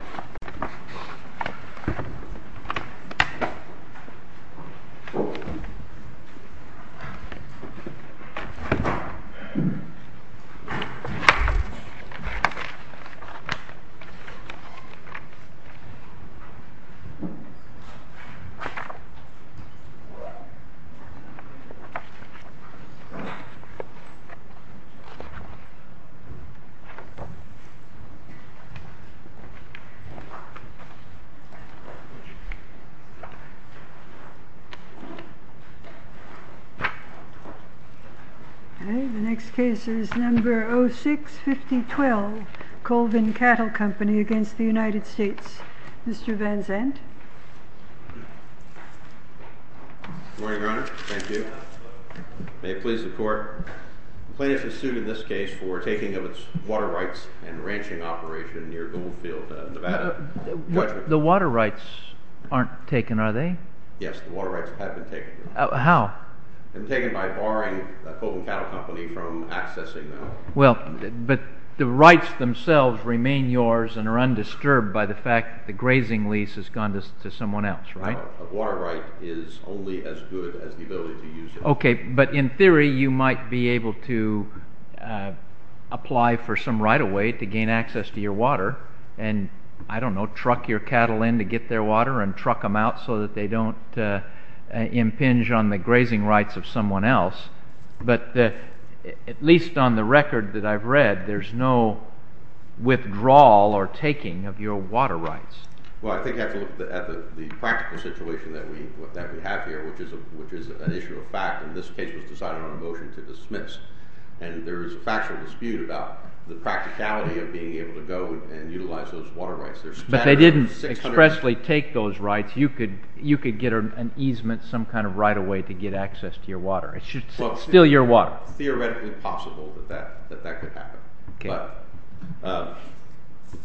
Downing, NJ 065012 Colvin Cattle Company v. United States Mr. Van Zandt Good morning, Your Honor. Thank you. May it please the Court, the plaintiff is sued in this case for taking of its water rights and ranching operation near Goldfield, Nevada. The water rights aren't taken, are they? Yes, the water rights have been taken. How? They've been taken by barring Colvin Cattle Company from accessing them. Well, but the rights themselves remain yours and are undisturbed by the fact that the grazing lease has gone to someone else, right? A water right is only as good as the ability to use it. Okay, but in theory you might be able to apply for some right-of-way to gain access to your water and, I don't know, truck your cattle in to get their water and truck them out so that they don't impinge on the grazing rights of someone else. But at least on the record that I've read, there's no withdrawal or taking of your water rights. Well, I think you have to look at the practical situation that we have here, which is an issue of fact, and this case was decided on a motion to dismiss. And there is a factual dispute about the practicality of being able to go and utilize those water rights. But they didn't expressly take those rights. You could get an easement, some kind of right-of-way to get access to your water. It's still your water. It's not theoretically possible that that could happen. Okay. But to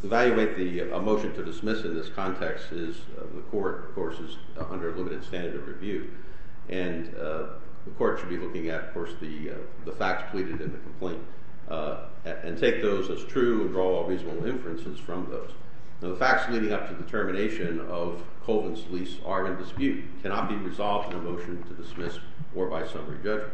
evaluate the motion to dismiss in this context is the court, of course, is under a limited standard of review. And the court should be looking at, of course, the facts pleaded in the complaint and take those as true and draw reasonable inferences from those. Now, the facts leading up to the termination of Colvin's lease are in dispute, cannot be resolved in a motion to dismiss or by summary judgment.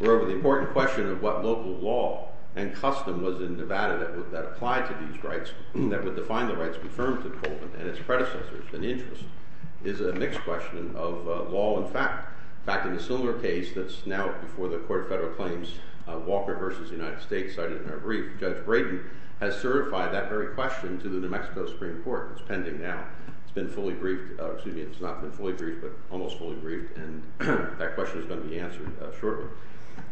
Moreover, the important question of what local law and custom was in Nevada that applied to these rights, that would define the rights confirmed to Colvin and its predecessors and interests, is a mixed question of law and fact. In fact, in a similar case that's now before the Court of Federal Claims, Walker v. United States, I didn't have a brief. Judge Braden has certified that very question to the New Mexico Supreme Court. It's pending now. It's been fully briefed—excuse me, it's not been fully briefed, but almost fully briefed. And that question is going to be answered shortly.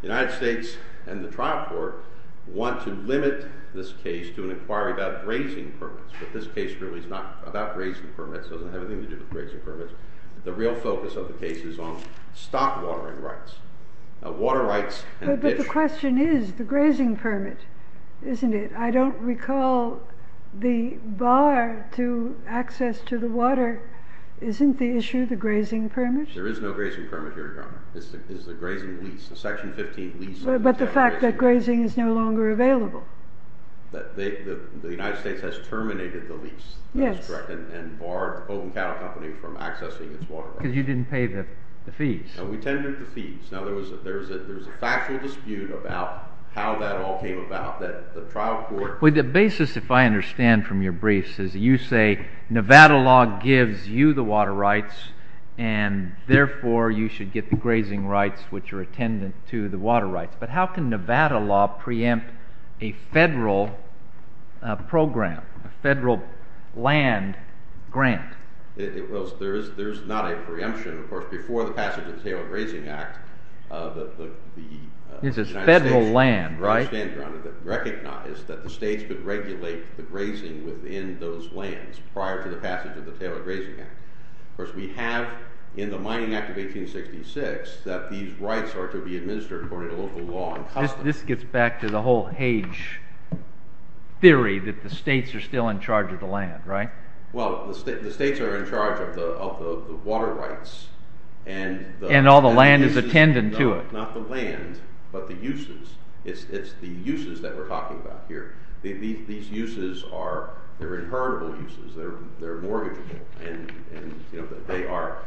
The United States and the trial court want to limit this case to an inquiry about grazing permits. But this case really is not about grazing permits. It doesn't have anything to do with grazing permits. The real focus of the case is on stock watering rights. Water rights— But the question is the grazing permit, isn't it? I don't recall the bar to access to the water. Isn't the issue the grazing permit? There is no grazing permit here, Your Honor. It's the grazing lease, the Section 15 lease— But the fact that grazing is no longer available. The United States has terminated the lease. Yes. That's correct, and barred the Pogan Cattle Company from accessing its water rights. Because you didn't pay the fees. No, we tended to fees. Now, there was a factual dispute about how that all came about, that the trial court— The basis, if I understand from your briefs, is you say Nevada law gives you the water rights, and therefore you should get the grazing rights, which are attendant to the water rights. But how can Nevada law preempt a federal program, a federal land grant? Well, there is not a preemption. Of course, before the passage of the Tailored Grazing Act, the United States— This is federal land, right? I understand, Your Honor. Recognize that the states would regulate the grazing within those lands prior to the passage of the Tailored Grazing Act. Of course, we have in the Mining Act of 1866 that these rights are to be administered according to local law. This gets back to the whole Hage theory that the states are still in charge of the land, right? Well, the states are in charge of the water rights. And all the land is attendant to it. Not the land, but the uses. It's the uses that we're talking about here. These uses are inheritable uses. They're mortgageable. And they are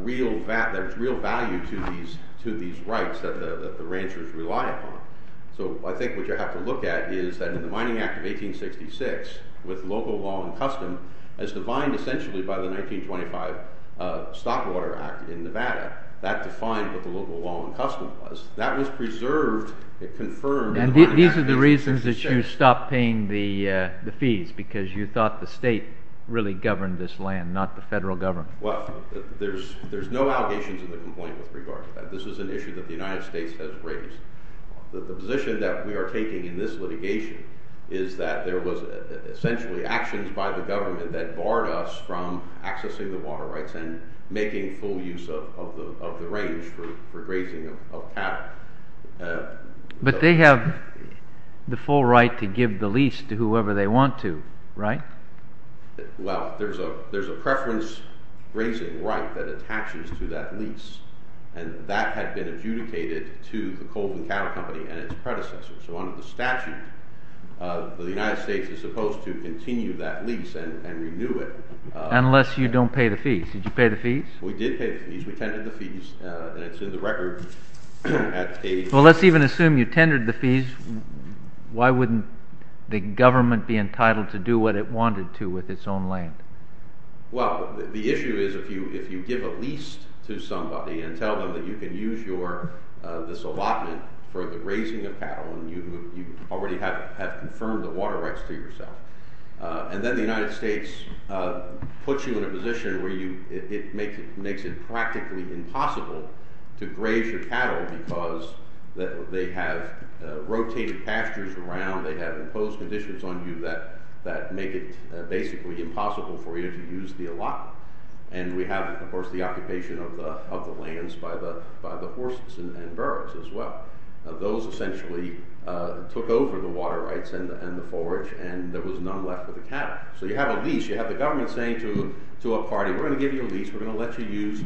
real value to these rights that the ranchers rely upon. So I think what you have to look at is that in the Mining Act of 1866, with local law and custom, as defined essentially by the 1925 Stockwater Act in Nevada, that defined what the local law and custom was. That was preserved, it confirmed— Those are the reasons that you stopped paying the fees, because you thought the state really governed this land, not the federal government. Well, there's no allegations in the complaint with regard to that. This is an issue that the United States has raised. The position that we are taking in this litigation is that there was essentially actions by the government that barred us from accessing the water rights and making full use of the range for grazing of cattle. But they have the full right to give the lease to whoever they want to, right? Well, there's a preference grazing right that attaches to that lease, and that had been adjudicated to the Colvin Cattle Company and its predecessors. So under the statute, the United States is supposed to continue that lease and renew it. Unless you don't pay the fees. Did you pay the fees? We did pay the fees. We tendered the fees, and it's in the record. Well, let's even assume you tendered the fees. Why wouldn't the government be entitled to do what it wanted to with its own land? Well, the issue is if you give a lease to somebody and tell them that you can use this allotment for the raising of cattle and you already have confirmed the water rights to yourself. And then the United States puts you in a position where it makes it practically impossible to graze your cattle because they have rotated pastures around, they have imposed conditions on you that make it basically impossible for you to use the allotment. And we have, of course, the occupation of the lands by the horses and burros as well. Those essentially took over the water rights and the forage, and there was none left for the cattle. So you have a lease. You have the government saying to a party, we're going to give you a lease, we're going to let you use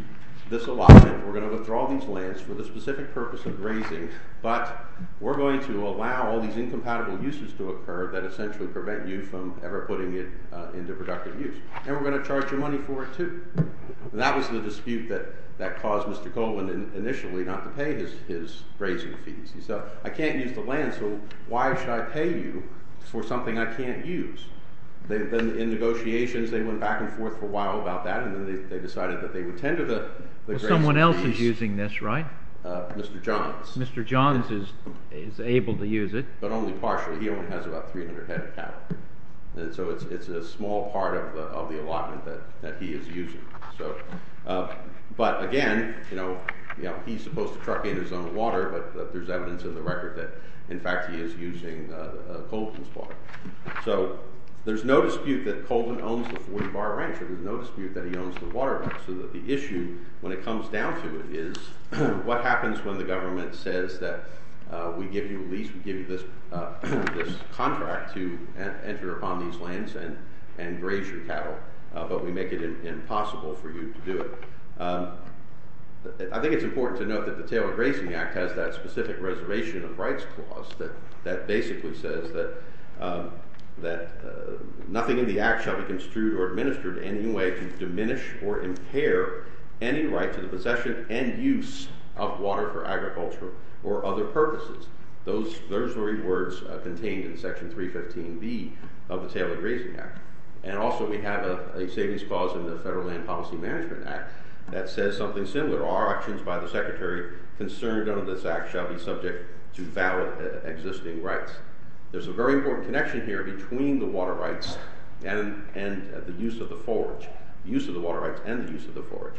this allotment, we're going to withdraw these lands for the specific purpose of grazing, but we're going to allow all these incompatible uses to occur that essentially prevent you from ever putting it into productive use. And that was the dispute that caused Mr. Coleman initially not to pay his grazing fees. He said, I can't use the land, so why should I pay you for something I can't use? They've been in negotiations, they went back and forth for a while about that, and then they decided that they would tend to the grazing fees. Well, someone else is using this, right? Mr. Johns. Mr. Johns is able to use it. But only partially. He only has about 300 head of cattle. And so it's a small part of the allotment that he is using. But again, he's supposed to truck in his own water, but there's evidence in the record that, in fact, he is using Coleman's water. So there's no dispute that Coleman owns the Forge Bar Ranch. There's no dispute that he owns the water right. So the issue, when it comes down to it, is what happens when the government says that we give you a lease, we give you this contract to enter upon these lands and graze your cattle, but we make it impossible for you to do it. I think it's important to note that the Taylor Grazing Act has that specific reservation of rights clause that basically says that nothing in the Act shall be construed or administered in any way to diminish or impair any right to the possession and use of water for agriculture or other purposes. Those words are contained in Section 315B of the Taylor Grazing Act. And also we have a savings clause in the Federal Land Policy Management Act that says something similar. Our actions by the Secretary concerned under this Act shall be subject to valid existing rights. There's a very important connection here between the water rights and the use of the Forge. The use of the water rights and the use of the Forge.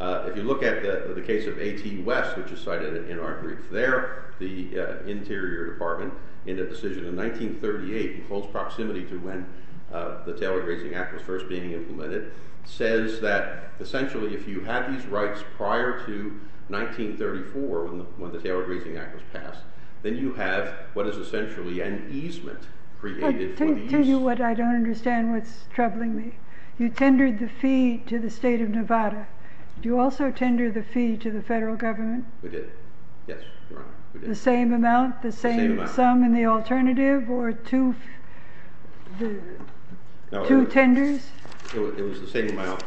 If you look at the case of A.T. West, which is cited in our brief there, the Interior Department in a decision in 1938 in close proximity to when the Taylor Grazing Act was first being implemented, says that essentially if you have these rights prior to 1934, when the Taylor Grazing Act was passed, then you have what is essentially an easement created for the use. I'll tell you what I don't understand, what's troubling me. You tendered the fee to the state of Nevada. Did you also tender the fee to the federal government? We did. Yes, Your Honor, we did. The same amount? The same amount. The same sum in the alternative or two tenders? It was the same amount.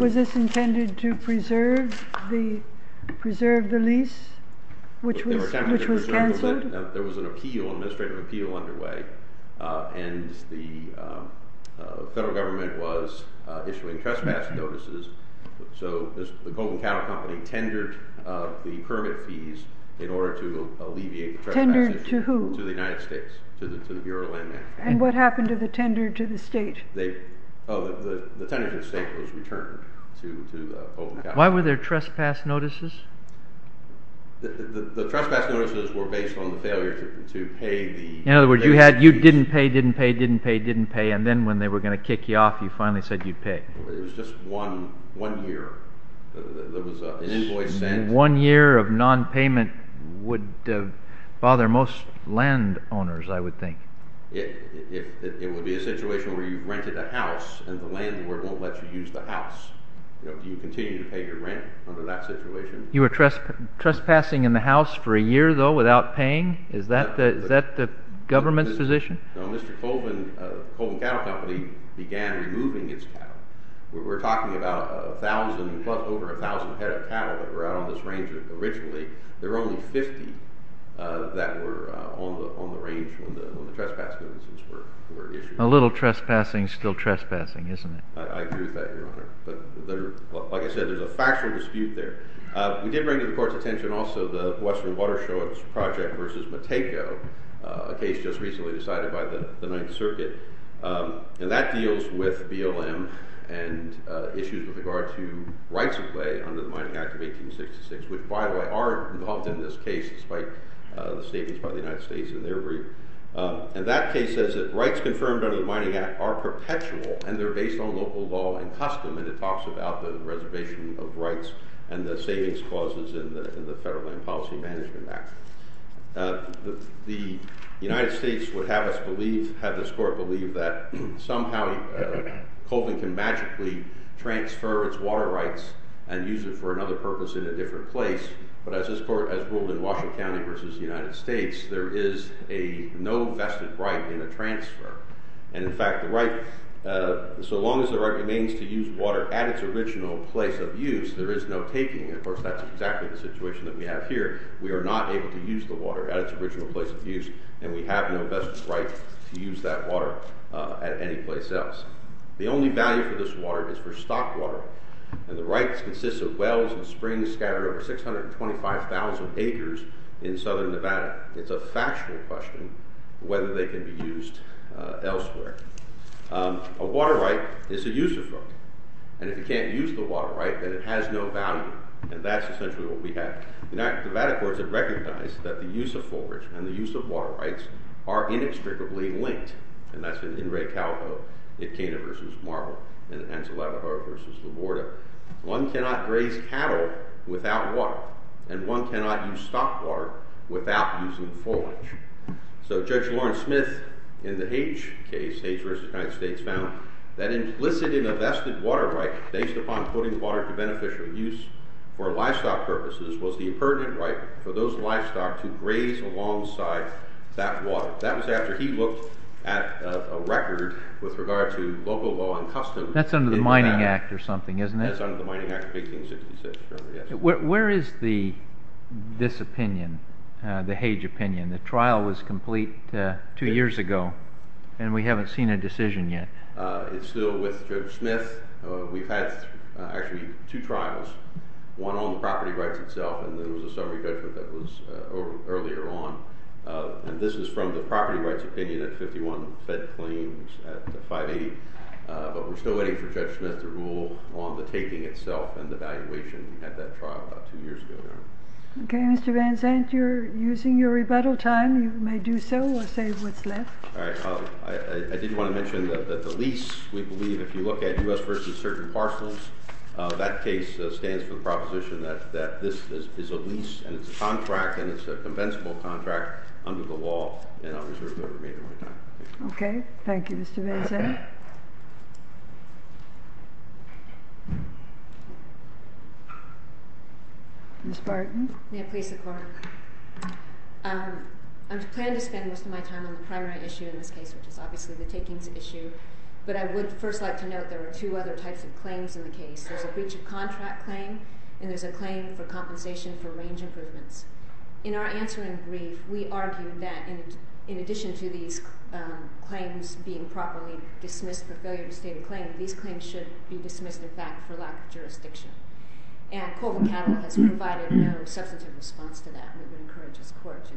Was this intended to preserve the lease, which was canceled? There was an appeal, an administrative appeal underway, and the federal government was issuing trespass notices. So the Colvin Cattle Company tendered the permit fees in order to alleviate the trespass. Tendered to who? To the United States, to the Bureau of Land Management. And what happened to the tender to the state? The tender to the state was returned to the Colvin Cattle Company. Why were there trespass notices? The trespass notices were based on the failure to pay the fees. In other words, you didn't pay, didn't pay, didn't pay, didn't pay, and then when they were going to kick you off, you finally said you'd pay. It was just one year. One year of nonpayment would bother most landowners, I would think. It would be a situation where you rented a house and the landlord won't let you use the house. Do you continue to pay your rent under that situation? You were trespassing in the house for a year, though, without paying? Is that the government's position? No, Mr. Colvin Cattle Company began removing its cattle. We're talking about over 1,000 head of cattle that were out on this range originally. There were only 50 that were on the range when the trespass notices were issued. A little trespassing is still trespassing, isn't it? I agree with that, Your Honor. Like I said, there's a factual dispute there. We did bring to the Court's attention also the Western Watersheds Project v. Matejko, a case just recently decided by the Ninth Circuit. That deals with BLM and issues with regard to rights of way under the Mining Act of 1866, which, by the way, are involved in this case, despite the statements by the United States in their brief. That case says that rights confirmed under the Mining Act are perpetual and they're based on local law and custom, and it talks about the reservation of rights and the savings clauses in the Federal Land Policy Management Act. The United States would have this Court believe that somehow Colvin can magically transfer its water rights and use it for another purpose in a different place, but as this Court has ruled in Washington County v. the United States, there is no vested right in a transfer. In fact, so long as the right remains to use water at its original place of use, there is no taking. Of course, that's exactly the situation that we have here. We are not able to use the water at its original place of use, and we have no vested right to use that water at any place else. The only value for this water is for stock water, and the rights consist of wells and springs scattered over 625,000 acres in southern Nevada. It's a factional question whether they can be used elsewhere. A water right is a user's right, and if you can't use the water right, then it has no value, and that's essentially what we have. The Nevada Courts have recognized that the use of forage and the use of water rights are inextricably linked, and that's in Ray Calvo in Cana v. Marble and in Anzalapaho v. LaGuardia. One cannot raise cattle without water, and one cannot use stock water without using forage. So Judge Lawrence Smith in the Hage case, Hage v. United States, found that implicit in a vested water right based upon putting water to beneficial use for livestock purposes was the impertinent right for those livestock to graze alongside that water. That was after he looked at a record with regard to local law and customs. That's under the Mining Act or something, isn't it? That's under the Mining Act of 1866, yes. Where is this opinion, the Hage opinion? The trial was complete two years ago, and we haven't seen a decision yet. It's still with Judge Smith. We've had actually two trials, one on the property rights itself, and there was a summary judgment that was earlier on. And this is from the property rights opinion at 51 fed claims at 580. But we're still waiting for Judge Smith to rule on the taking itself and the valuation at that trial about two years ago. Okay, Mr. Van Zandt, you're using your rebuttal time. You may do so or say what's left. All right. I did want to mention that the lease, we believe if you look at U.S. v. Certain Parcels, that case stands for the proposition that this is a lease, and it's a contract, and it's a compensable contract under the law. And I'll reserve the remainder of my time. Okay. Thank you, Mr. Van Zandt. Ms. Barton. May I please support? I plan to spend most of my time on the primary issue in this case, which is obviously the takings issue. But I would first like to note there are two other types of claims in the case. There's a breach of contract claim, and there's a claim for compensation for range improvements. In our answer in brief, we argued that in addition to these claims being properly dismissed for failure to state a claim, these claims should be dismissed, in fact, for lack of jurisdiction. And Colvin Cattle has provided no substantive response to that. We would encourage his court to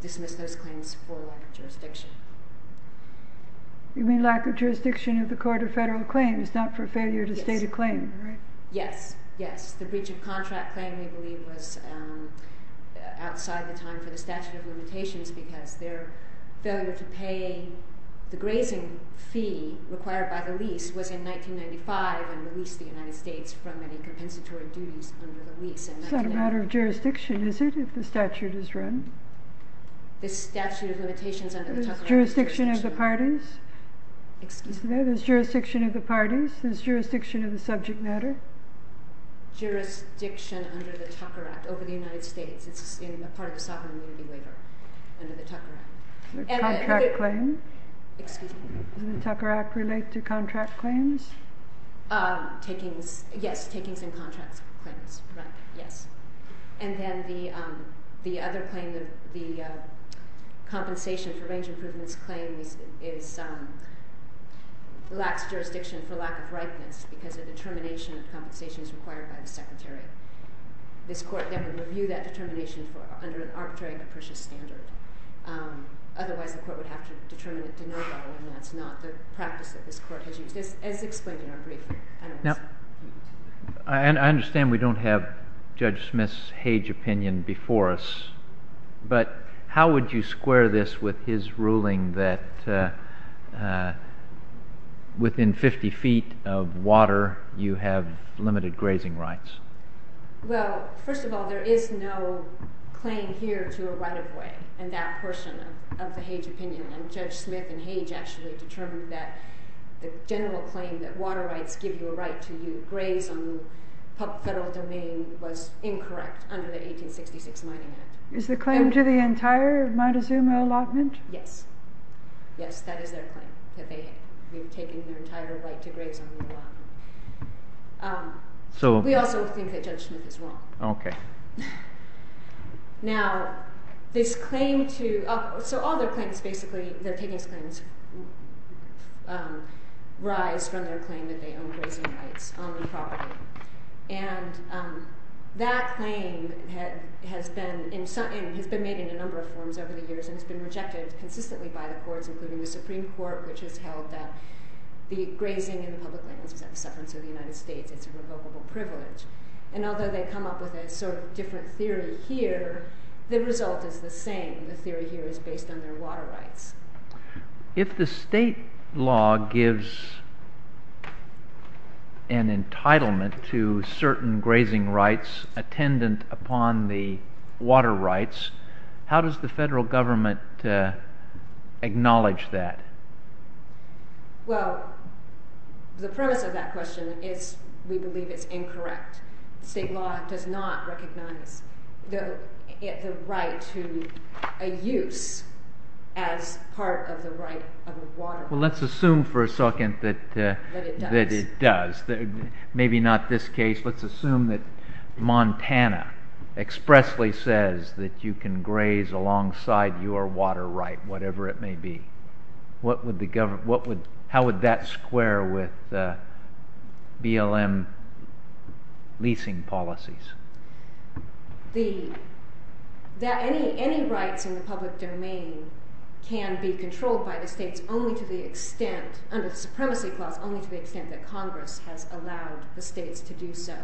dismiss those claims for lack of jurisdiction. You mean lack of jurisdiction of the court of federal claims, not for failure to state a claim, right? Yes. Yes. The breach of contract claim, we believe, was outside the time for the statute of limitations because their failure to pay the grazing fee required by the lease was in 1995 when we leased the United States from any compensatory duties under the lease. It's not a matter of jurisdiction, is it, if the statute is run? The statute of limitations under the Tucker Act. There's jurisdiction of the parties. Excuse me? There's jurisdiction of the parties. There's jurisdiction of the subject matter. Jurisdiction under the Tucker Act over the United States. It's a part of the sovereign immunity waiver under the Tucker Act. The contract claim? Excuse me? Does the Tucker Act relate to contract claims? Takings. Yes, takings and contract claims. Right. Yes. And then the other claim, the compensation for range improvements claims, is lax jurisdiction for lack of ripeness because the determination of compensation is required by the Secretary. This Court would review that determination under an arbitrary capricious standard. Otherwise, the Court would have to determine it to no avail, and that's not the practice that this Court has used, as explained in our brief. I understand we don't have Judge Smith's Hage opinion before us, but how would you square this with his ruling that within 50 feet of water, you have limited grazing rights? Well, first of all, there is no claim here to a right of way in that portion of the Hage opinion, and Judge Smith and Hage actually determined that the general claim that water rights give you a right to graze on the federal domain was incorrect under the 1866 Mining Act. Is the claim to the entire Montezuma allotment? Yes. Yes, that is their claim, that they have taken their entire right to graze on the allotment. We also think that Judge Smith is wrong. Okay. Now, this claim to—so all their claims, basically, their takings claims, rise from their claim that they own grazing rights on the property. And that claim has been made in a number of forms over the years and has been rejected consistently by the courts, including the Supreme Court, which has held that the grazing in the public lands is a sufferance of the United States. It's a revocable privilege. And although they come up with a sort of different theory here, the result is the same. The theory here is based on their water rights. If the state law gives an entitlement to certain grazing rights attendant upon the water rights, how does the federal government acknowledge that? Well, the premise of that question is we believe it's incorrect. State law does not recognize the right to a use as part of the right of the water rights. Well, let's assume for a second that it does. Maybe not this case. Let's assume that Montana expressly says that you can graze alongside your water right, whatever it may be. How would that square with BLM leasing policies? Any rights in the public domain can be controlled by the states only to the extent, under the Supremacy Clause, only to the extent that Congress has allowed the states to do so.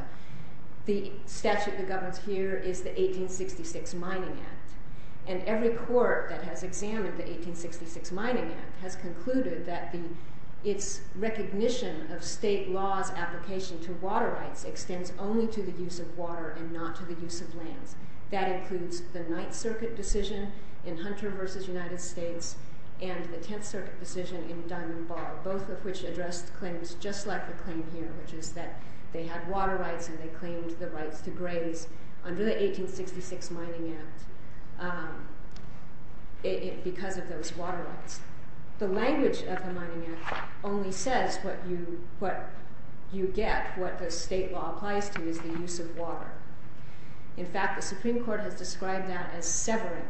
The statute that governs here is the 1866 Mining Act. And every court that has examined the 1866 Mining Act has concluded that its recognition of state law's application to water rights extends only to the use of water and not to the use of lands. That includes the Ninth Circuit decision in Hunter v. United States and the Tenth Circuit decision in Diamond Bar, both of which addressed claims just like the claim here, which is that they had water rights and they claimed the rights to graze under the 1866 Mining Act because of those water rights. The language of the Mining Act only says what you get, what the state law applies to, is the use of water. In fact, the Supreme Court has described that as severing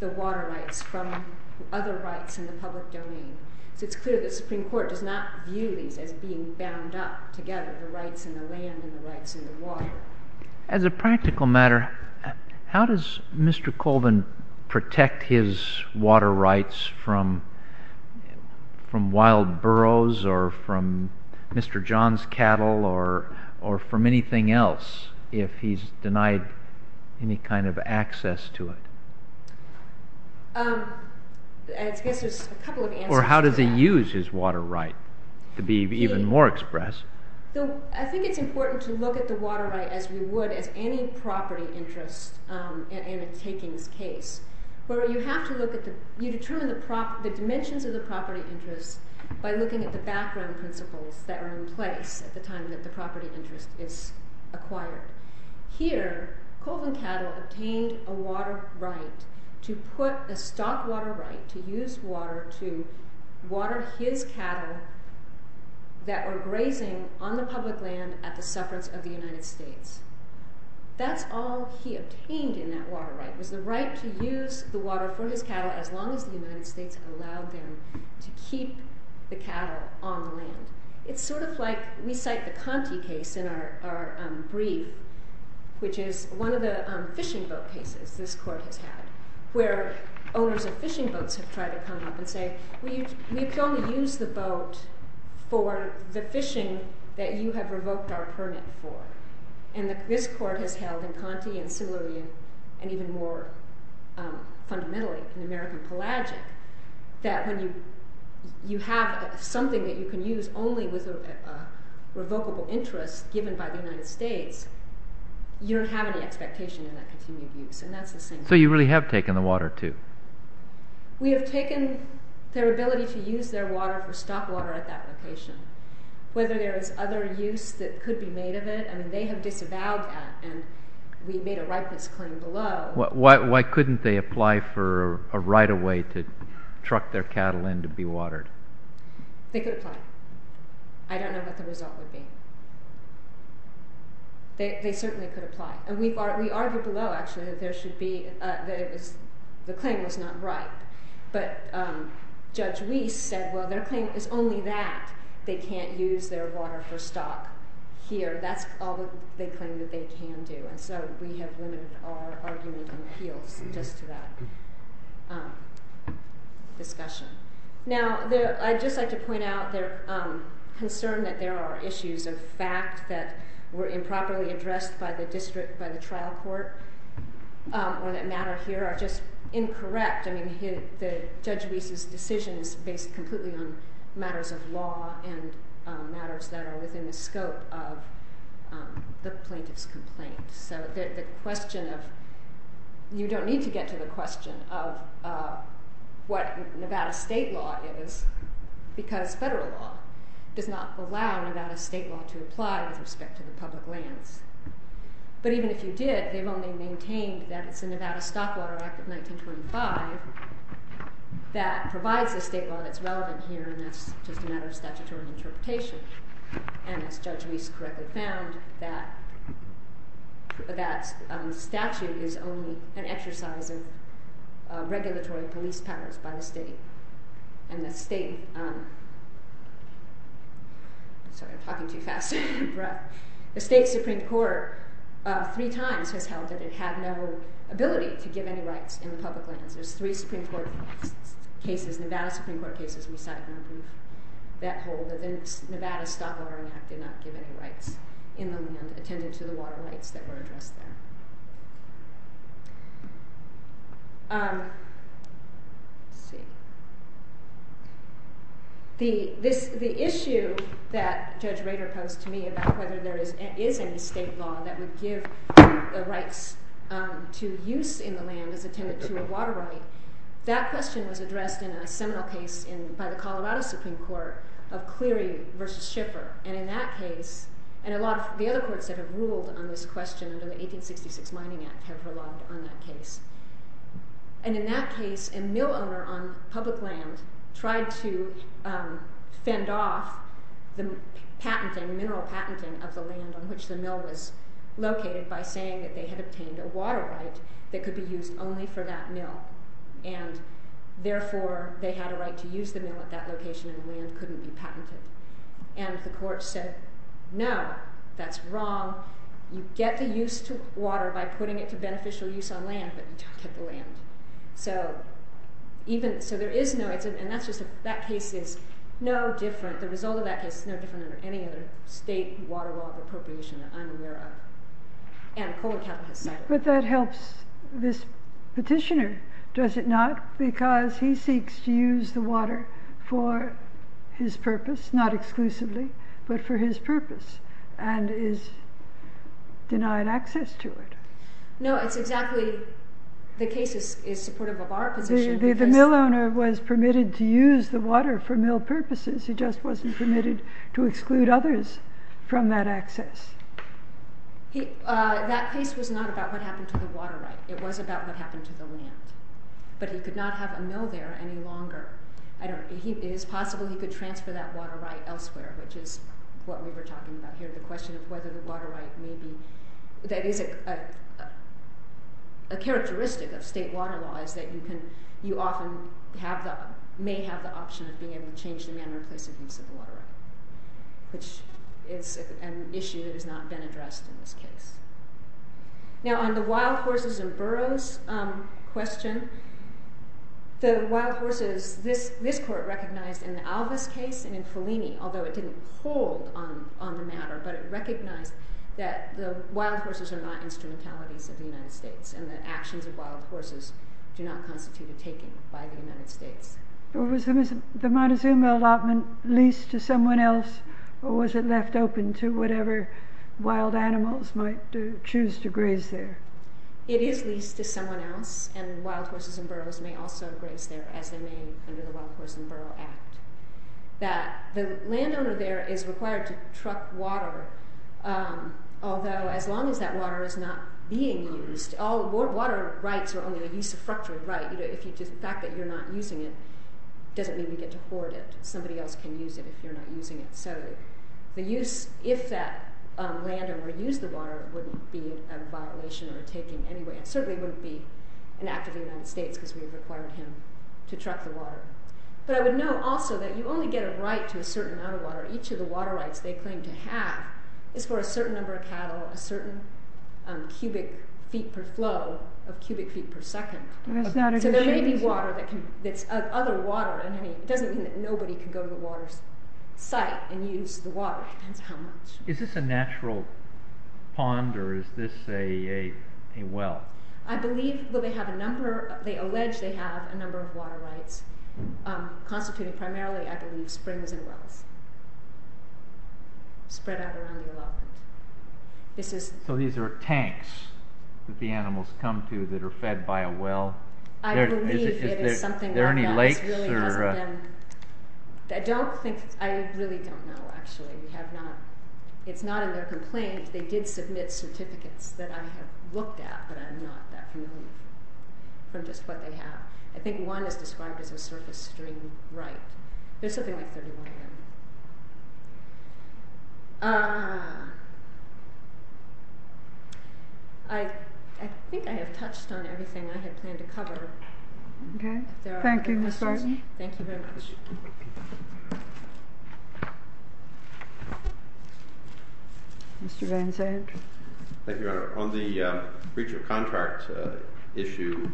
the water rights from other rights in the public domain. So it's clear that the Supreme Court does not view these as being bound up together, the rights in the land and the rights in the water. As a practical matter, how does Mr. Colvin protect his water rights from wild burrows or from Mr. John's cattle or from anything else if he's denied any kind of access to it? I guess there's a couple of answers to that. Or how does he use his water right to be even more express? I think it's important to look at the water right as we would as any property interest in a takings case where you determine the dimensions of the property interest by looking at the background principles that are in place at the time that the property interest is acquired. Here, Colvin Cattle obtained a water right to put a stock water right, to use water to water his cattle that were grazing on the public land at the sufferance of the United States. That's all he obtained in that water right, was the right to use the water for his cattle as long as the United States allowed them to keep the cattle on the land. It's sort of like, we cite the Conte case in our brief, which is one of the fishing boat cases this court has had, where owners of fishing boats have tried to come up and say, we can only use the boat for the fishing that you have revoked our permit for. And this court has held in Conte and similarly and even more fundamentally in American Pelagic that when you have something that you can use only with a revocable interest given by the United States, you don't have any expectation in that continued use. And that's the same thing. So you really have taken the water too? We have taken their ability to use their water for stock water at that location. Whether there is other use that could be made of it, I mean they have disavowed that and we made a ripeness claim below. Why couldn't they apply for a right-of-way to truck their cattle in to be watered? They could apply. I don't know what the result would be. They certainly could apply. And we argued below, actually, that the claim was not right. But Judge Reese said, well, their claim is only that they can't use their water for stock here. That's all they claim that they can do. And so we have limited our argument and appeals just to that discussion. Now I'd just like to point out their concern that there are issues of fact that were improperly addressed by the district, by the trial court, or that matter here are just incorrect. I mean Judge Reese's decision is based completely on matters of law and matters that are within the scope of the plaintiff's complaint. So you don't need to get to the question of what Nevada state law is because federal law does not allow Nevada state law to apply with respect to the public lands. But even if you did, they've only maintained that it's the Nevada Stock Water Act of 1925 that provides the state law that's relevant here, and that's just a matter of statutory interpretation. And as Judge Reese correctly found, that statute is only an exercise of regulatory police powers by the state. And the state—sorry, I'm talking too fast. The state Supreme Court three times has held that it had no ability to give any rights in the public lands. There's three Supreme Court cases—Nevada Supreme Court cases we cited— that hold that the Nevada Stock Water Act did not give any rights in the land attended to the water rights that were addressed there. The issue that Judge Rader posed to me about whether there is any state law that would give the rights to use in the land as attended to a water right, that question was addressed in a seminal case by the Colorado Supreme Court of Cleary v. Schiffer. And in that case—and a lot of the other courts that have ruled on this question under the 1866 Mining Act have relied on that case. And in that case, a mill owner on public land tried to fend off the patenting, of the land on which the mill was located, by saying that they had obtained a water right that could be used only for that mill. And therefore, they had a right to use the mill at that location and land couldn't be patented. And the court said, no, that's wrong. You get the use to water by putting it to beneficial use on land, but you don't get the land. So there is no—and that case is no different, the result of that case is no different than any other state water law of appropriation that I'm aware of. And Colorado has cited it. But that helps this petitioner, does it not? Because he seeks to use the water for his purpose, not exclusively, but for his purpose. And is denied access to it. No, it's exactly—the case is supportive of our position. The mill owner was permitted to use the water for mill purposes. He just wasn't permitted to exclude others from that access. That case was not about what happened to the water right. It was about what happened to the land. But he could not have a mill there any longer. It is possible he could transfer that water right elsewhere, which is what we were talking about here, the question of whether the water right may be— that is a characteristic of state water law is that you often may have the option of being able to change the manner of place of use of the water right, which is an issue that has not been addressed in this case. Now on the wild horses and burros question, the wild horses— this court recognized in the Alvis case and in Fellini, although it didn't hold on the matter, but it recognized that the wild horses are not instrumentalities of the United States and the actions of wild horses do not constitute a taking by the United States. Was the Montezuma allotment leased to someone else or was it left open to whatever wild animals might choose to graze there? It is leased to someone else and wild horses and burros may also graze there as they may under the Wild Horses and Burros Act. The landowner there is required to truck water, although as long as that water is not being used— all water rights are only a use of fructured right. The fact that you're not using it doesn't mean you get to hoard it. Somebody else can use it if you're not using it. So if that landowner used the water, it wouldn't be a violation or a taking anyway. It certainly wouldn't be an act of the United States because we required him to truck the water. But I would note also that you only get a right to a certain amount of water. Each of the water rights they claim to have is for a certain number of cattle, a certain cubic feet per flow of cubic feet per second. So there may be water that's other water. It doesn't mean that nobody can go to the water's site and use the water. It depends on how much. Is this a natural pond or is this a well? I believe that they have a number—they allege they have a number of water rights constituting primarily, I believe, springs and wells spread out around the development. So these are tanks that the animals come to that are fed by a well? I believe it is something like that. Are there any lakes? I don't think—I really don't know, actually. We have not—it's not in their complaint. They did submit certificates that I have looked at, but I'm not that familiar from just what they have. I think one is described as a surface stream right. There's something like 31 there. I think I have touched on everything I had planned to cover. Okay. Thank you, Ms. Martin. Thank you very much. Thank you. Mr. Van Zandt. Thank you, Your Honor. On the breach of contract issue,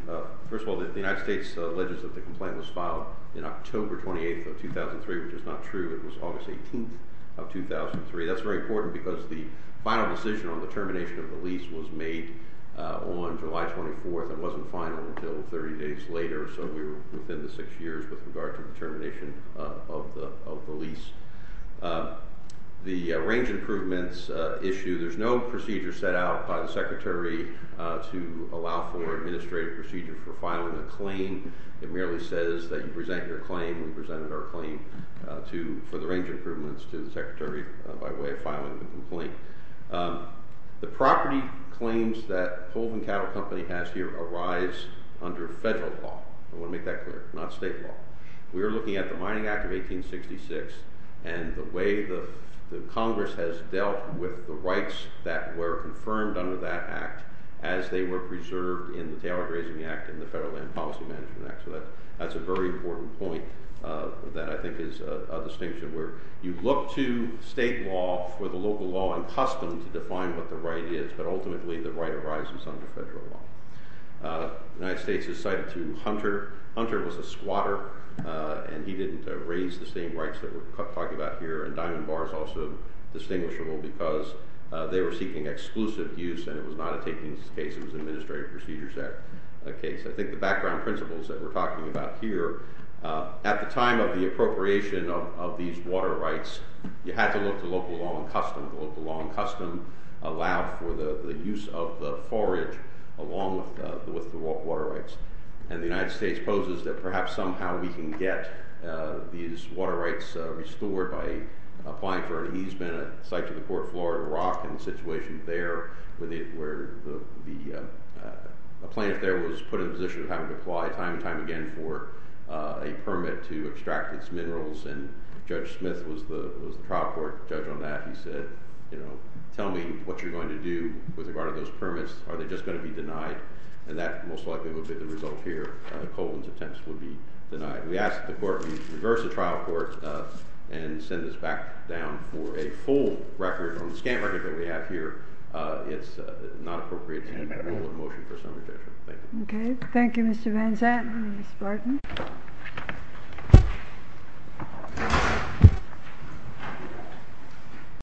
first of all, the United States alleges that the complaint was filed in October 28th of 2003, which is not true. It was August 18th of 2003. That's very important because the final decision on the termination of the lease was made on July 24th. It wasn't final until 30 days later, so we were within the six years with regard to the termination of the lease. The range improvements issue, there's no procedure set out by the Secretary to allow for administrative procedure for filing a claim. It merely says that you present your claim. We presented our claim for the range improvements to the Secretary by way of filing the complaint. The property claims that Holden Cattle Company has here arise under federal law. I want to make that clear, not state law. We are looking at the Mining Act of 1866 and the way that Congress has dealt with the rights that were confirmed under that act as they were preserved in the Taylor Grazing Act and the Federal Land Policy Management Act. That's a very important point that I think is a distinction where you look to state law for the local law and custom to define what the right is, but ultimately the right arises under federal law. The United States has cited Hunter. Hunter was a squatter, and he didn't raise the same rights that we're talking about here, and Diamond Bar is also distinguishable because they were seeking exclusive use, and it was not a takings case. It was an administrative procedure set case. I think the background principles that we're talking about here, at the time of the appropriation of these water rights, you had to look to local law and custom. The local law and custom allowed for the use of the forage along with the water rights, and the United States poses that perhaps somehow we can get these water rights restored by applying for an easement at the site of the Port of Florida Rock and the situation there where the plant there was put in the position of having to apply time and time again for a permit to extract its minerals, and Judge Smith was the trial court judge on that. He said, you know, tell me what you're going to do with regard to those permits. Are they just going to be denied? And that most likely would be the result here. Colvin's attempts would be denied. We asked the court to reverse the trial court and send this back down for a full record. On the scant record that we have here, it's not appropriate to enroll in a motion for some objection. Thank you. Thank you, Mr. Van Zandt and Ms. Barton.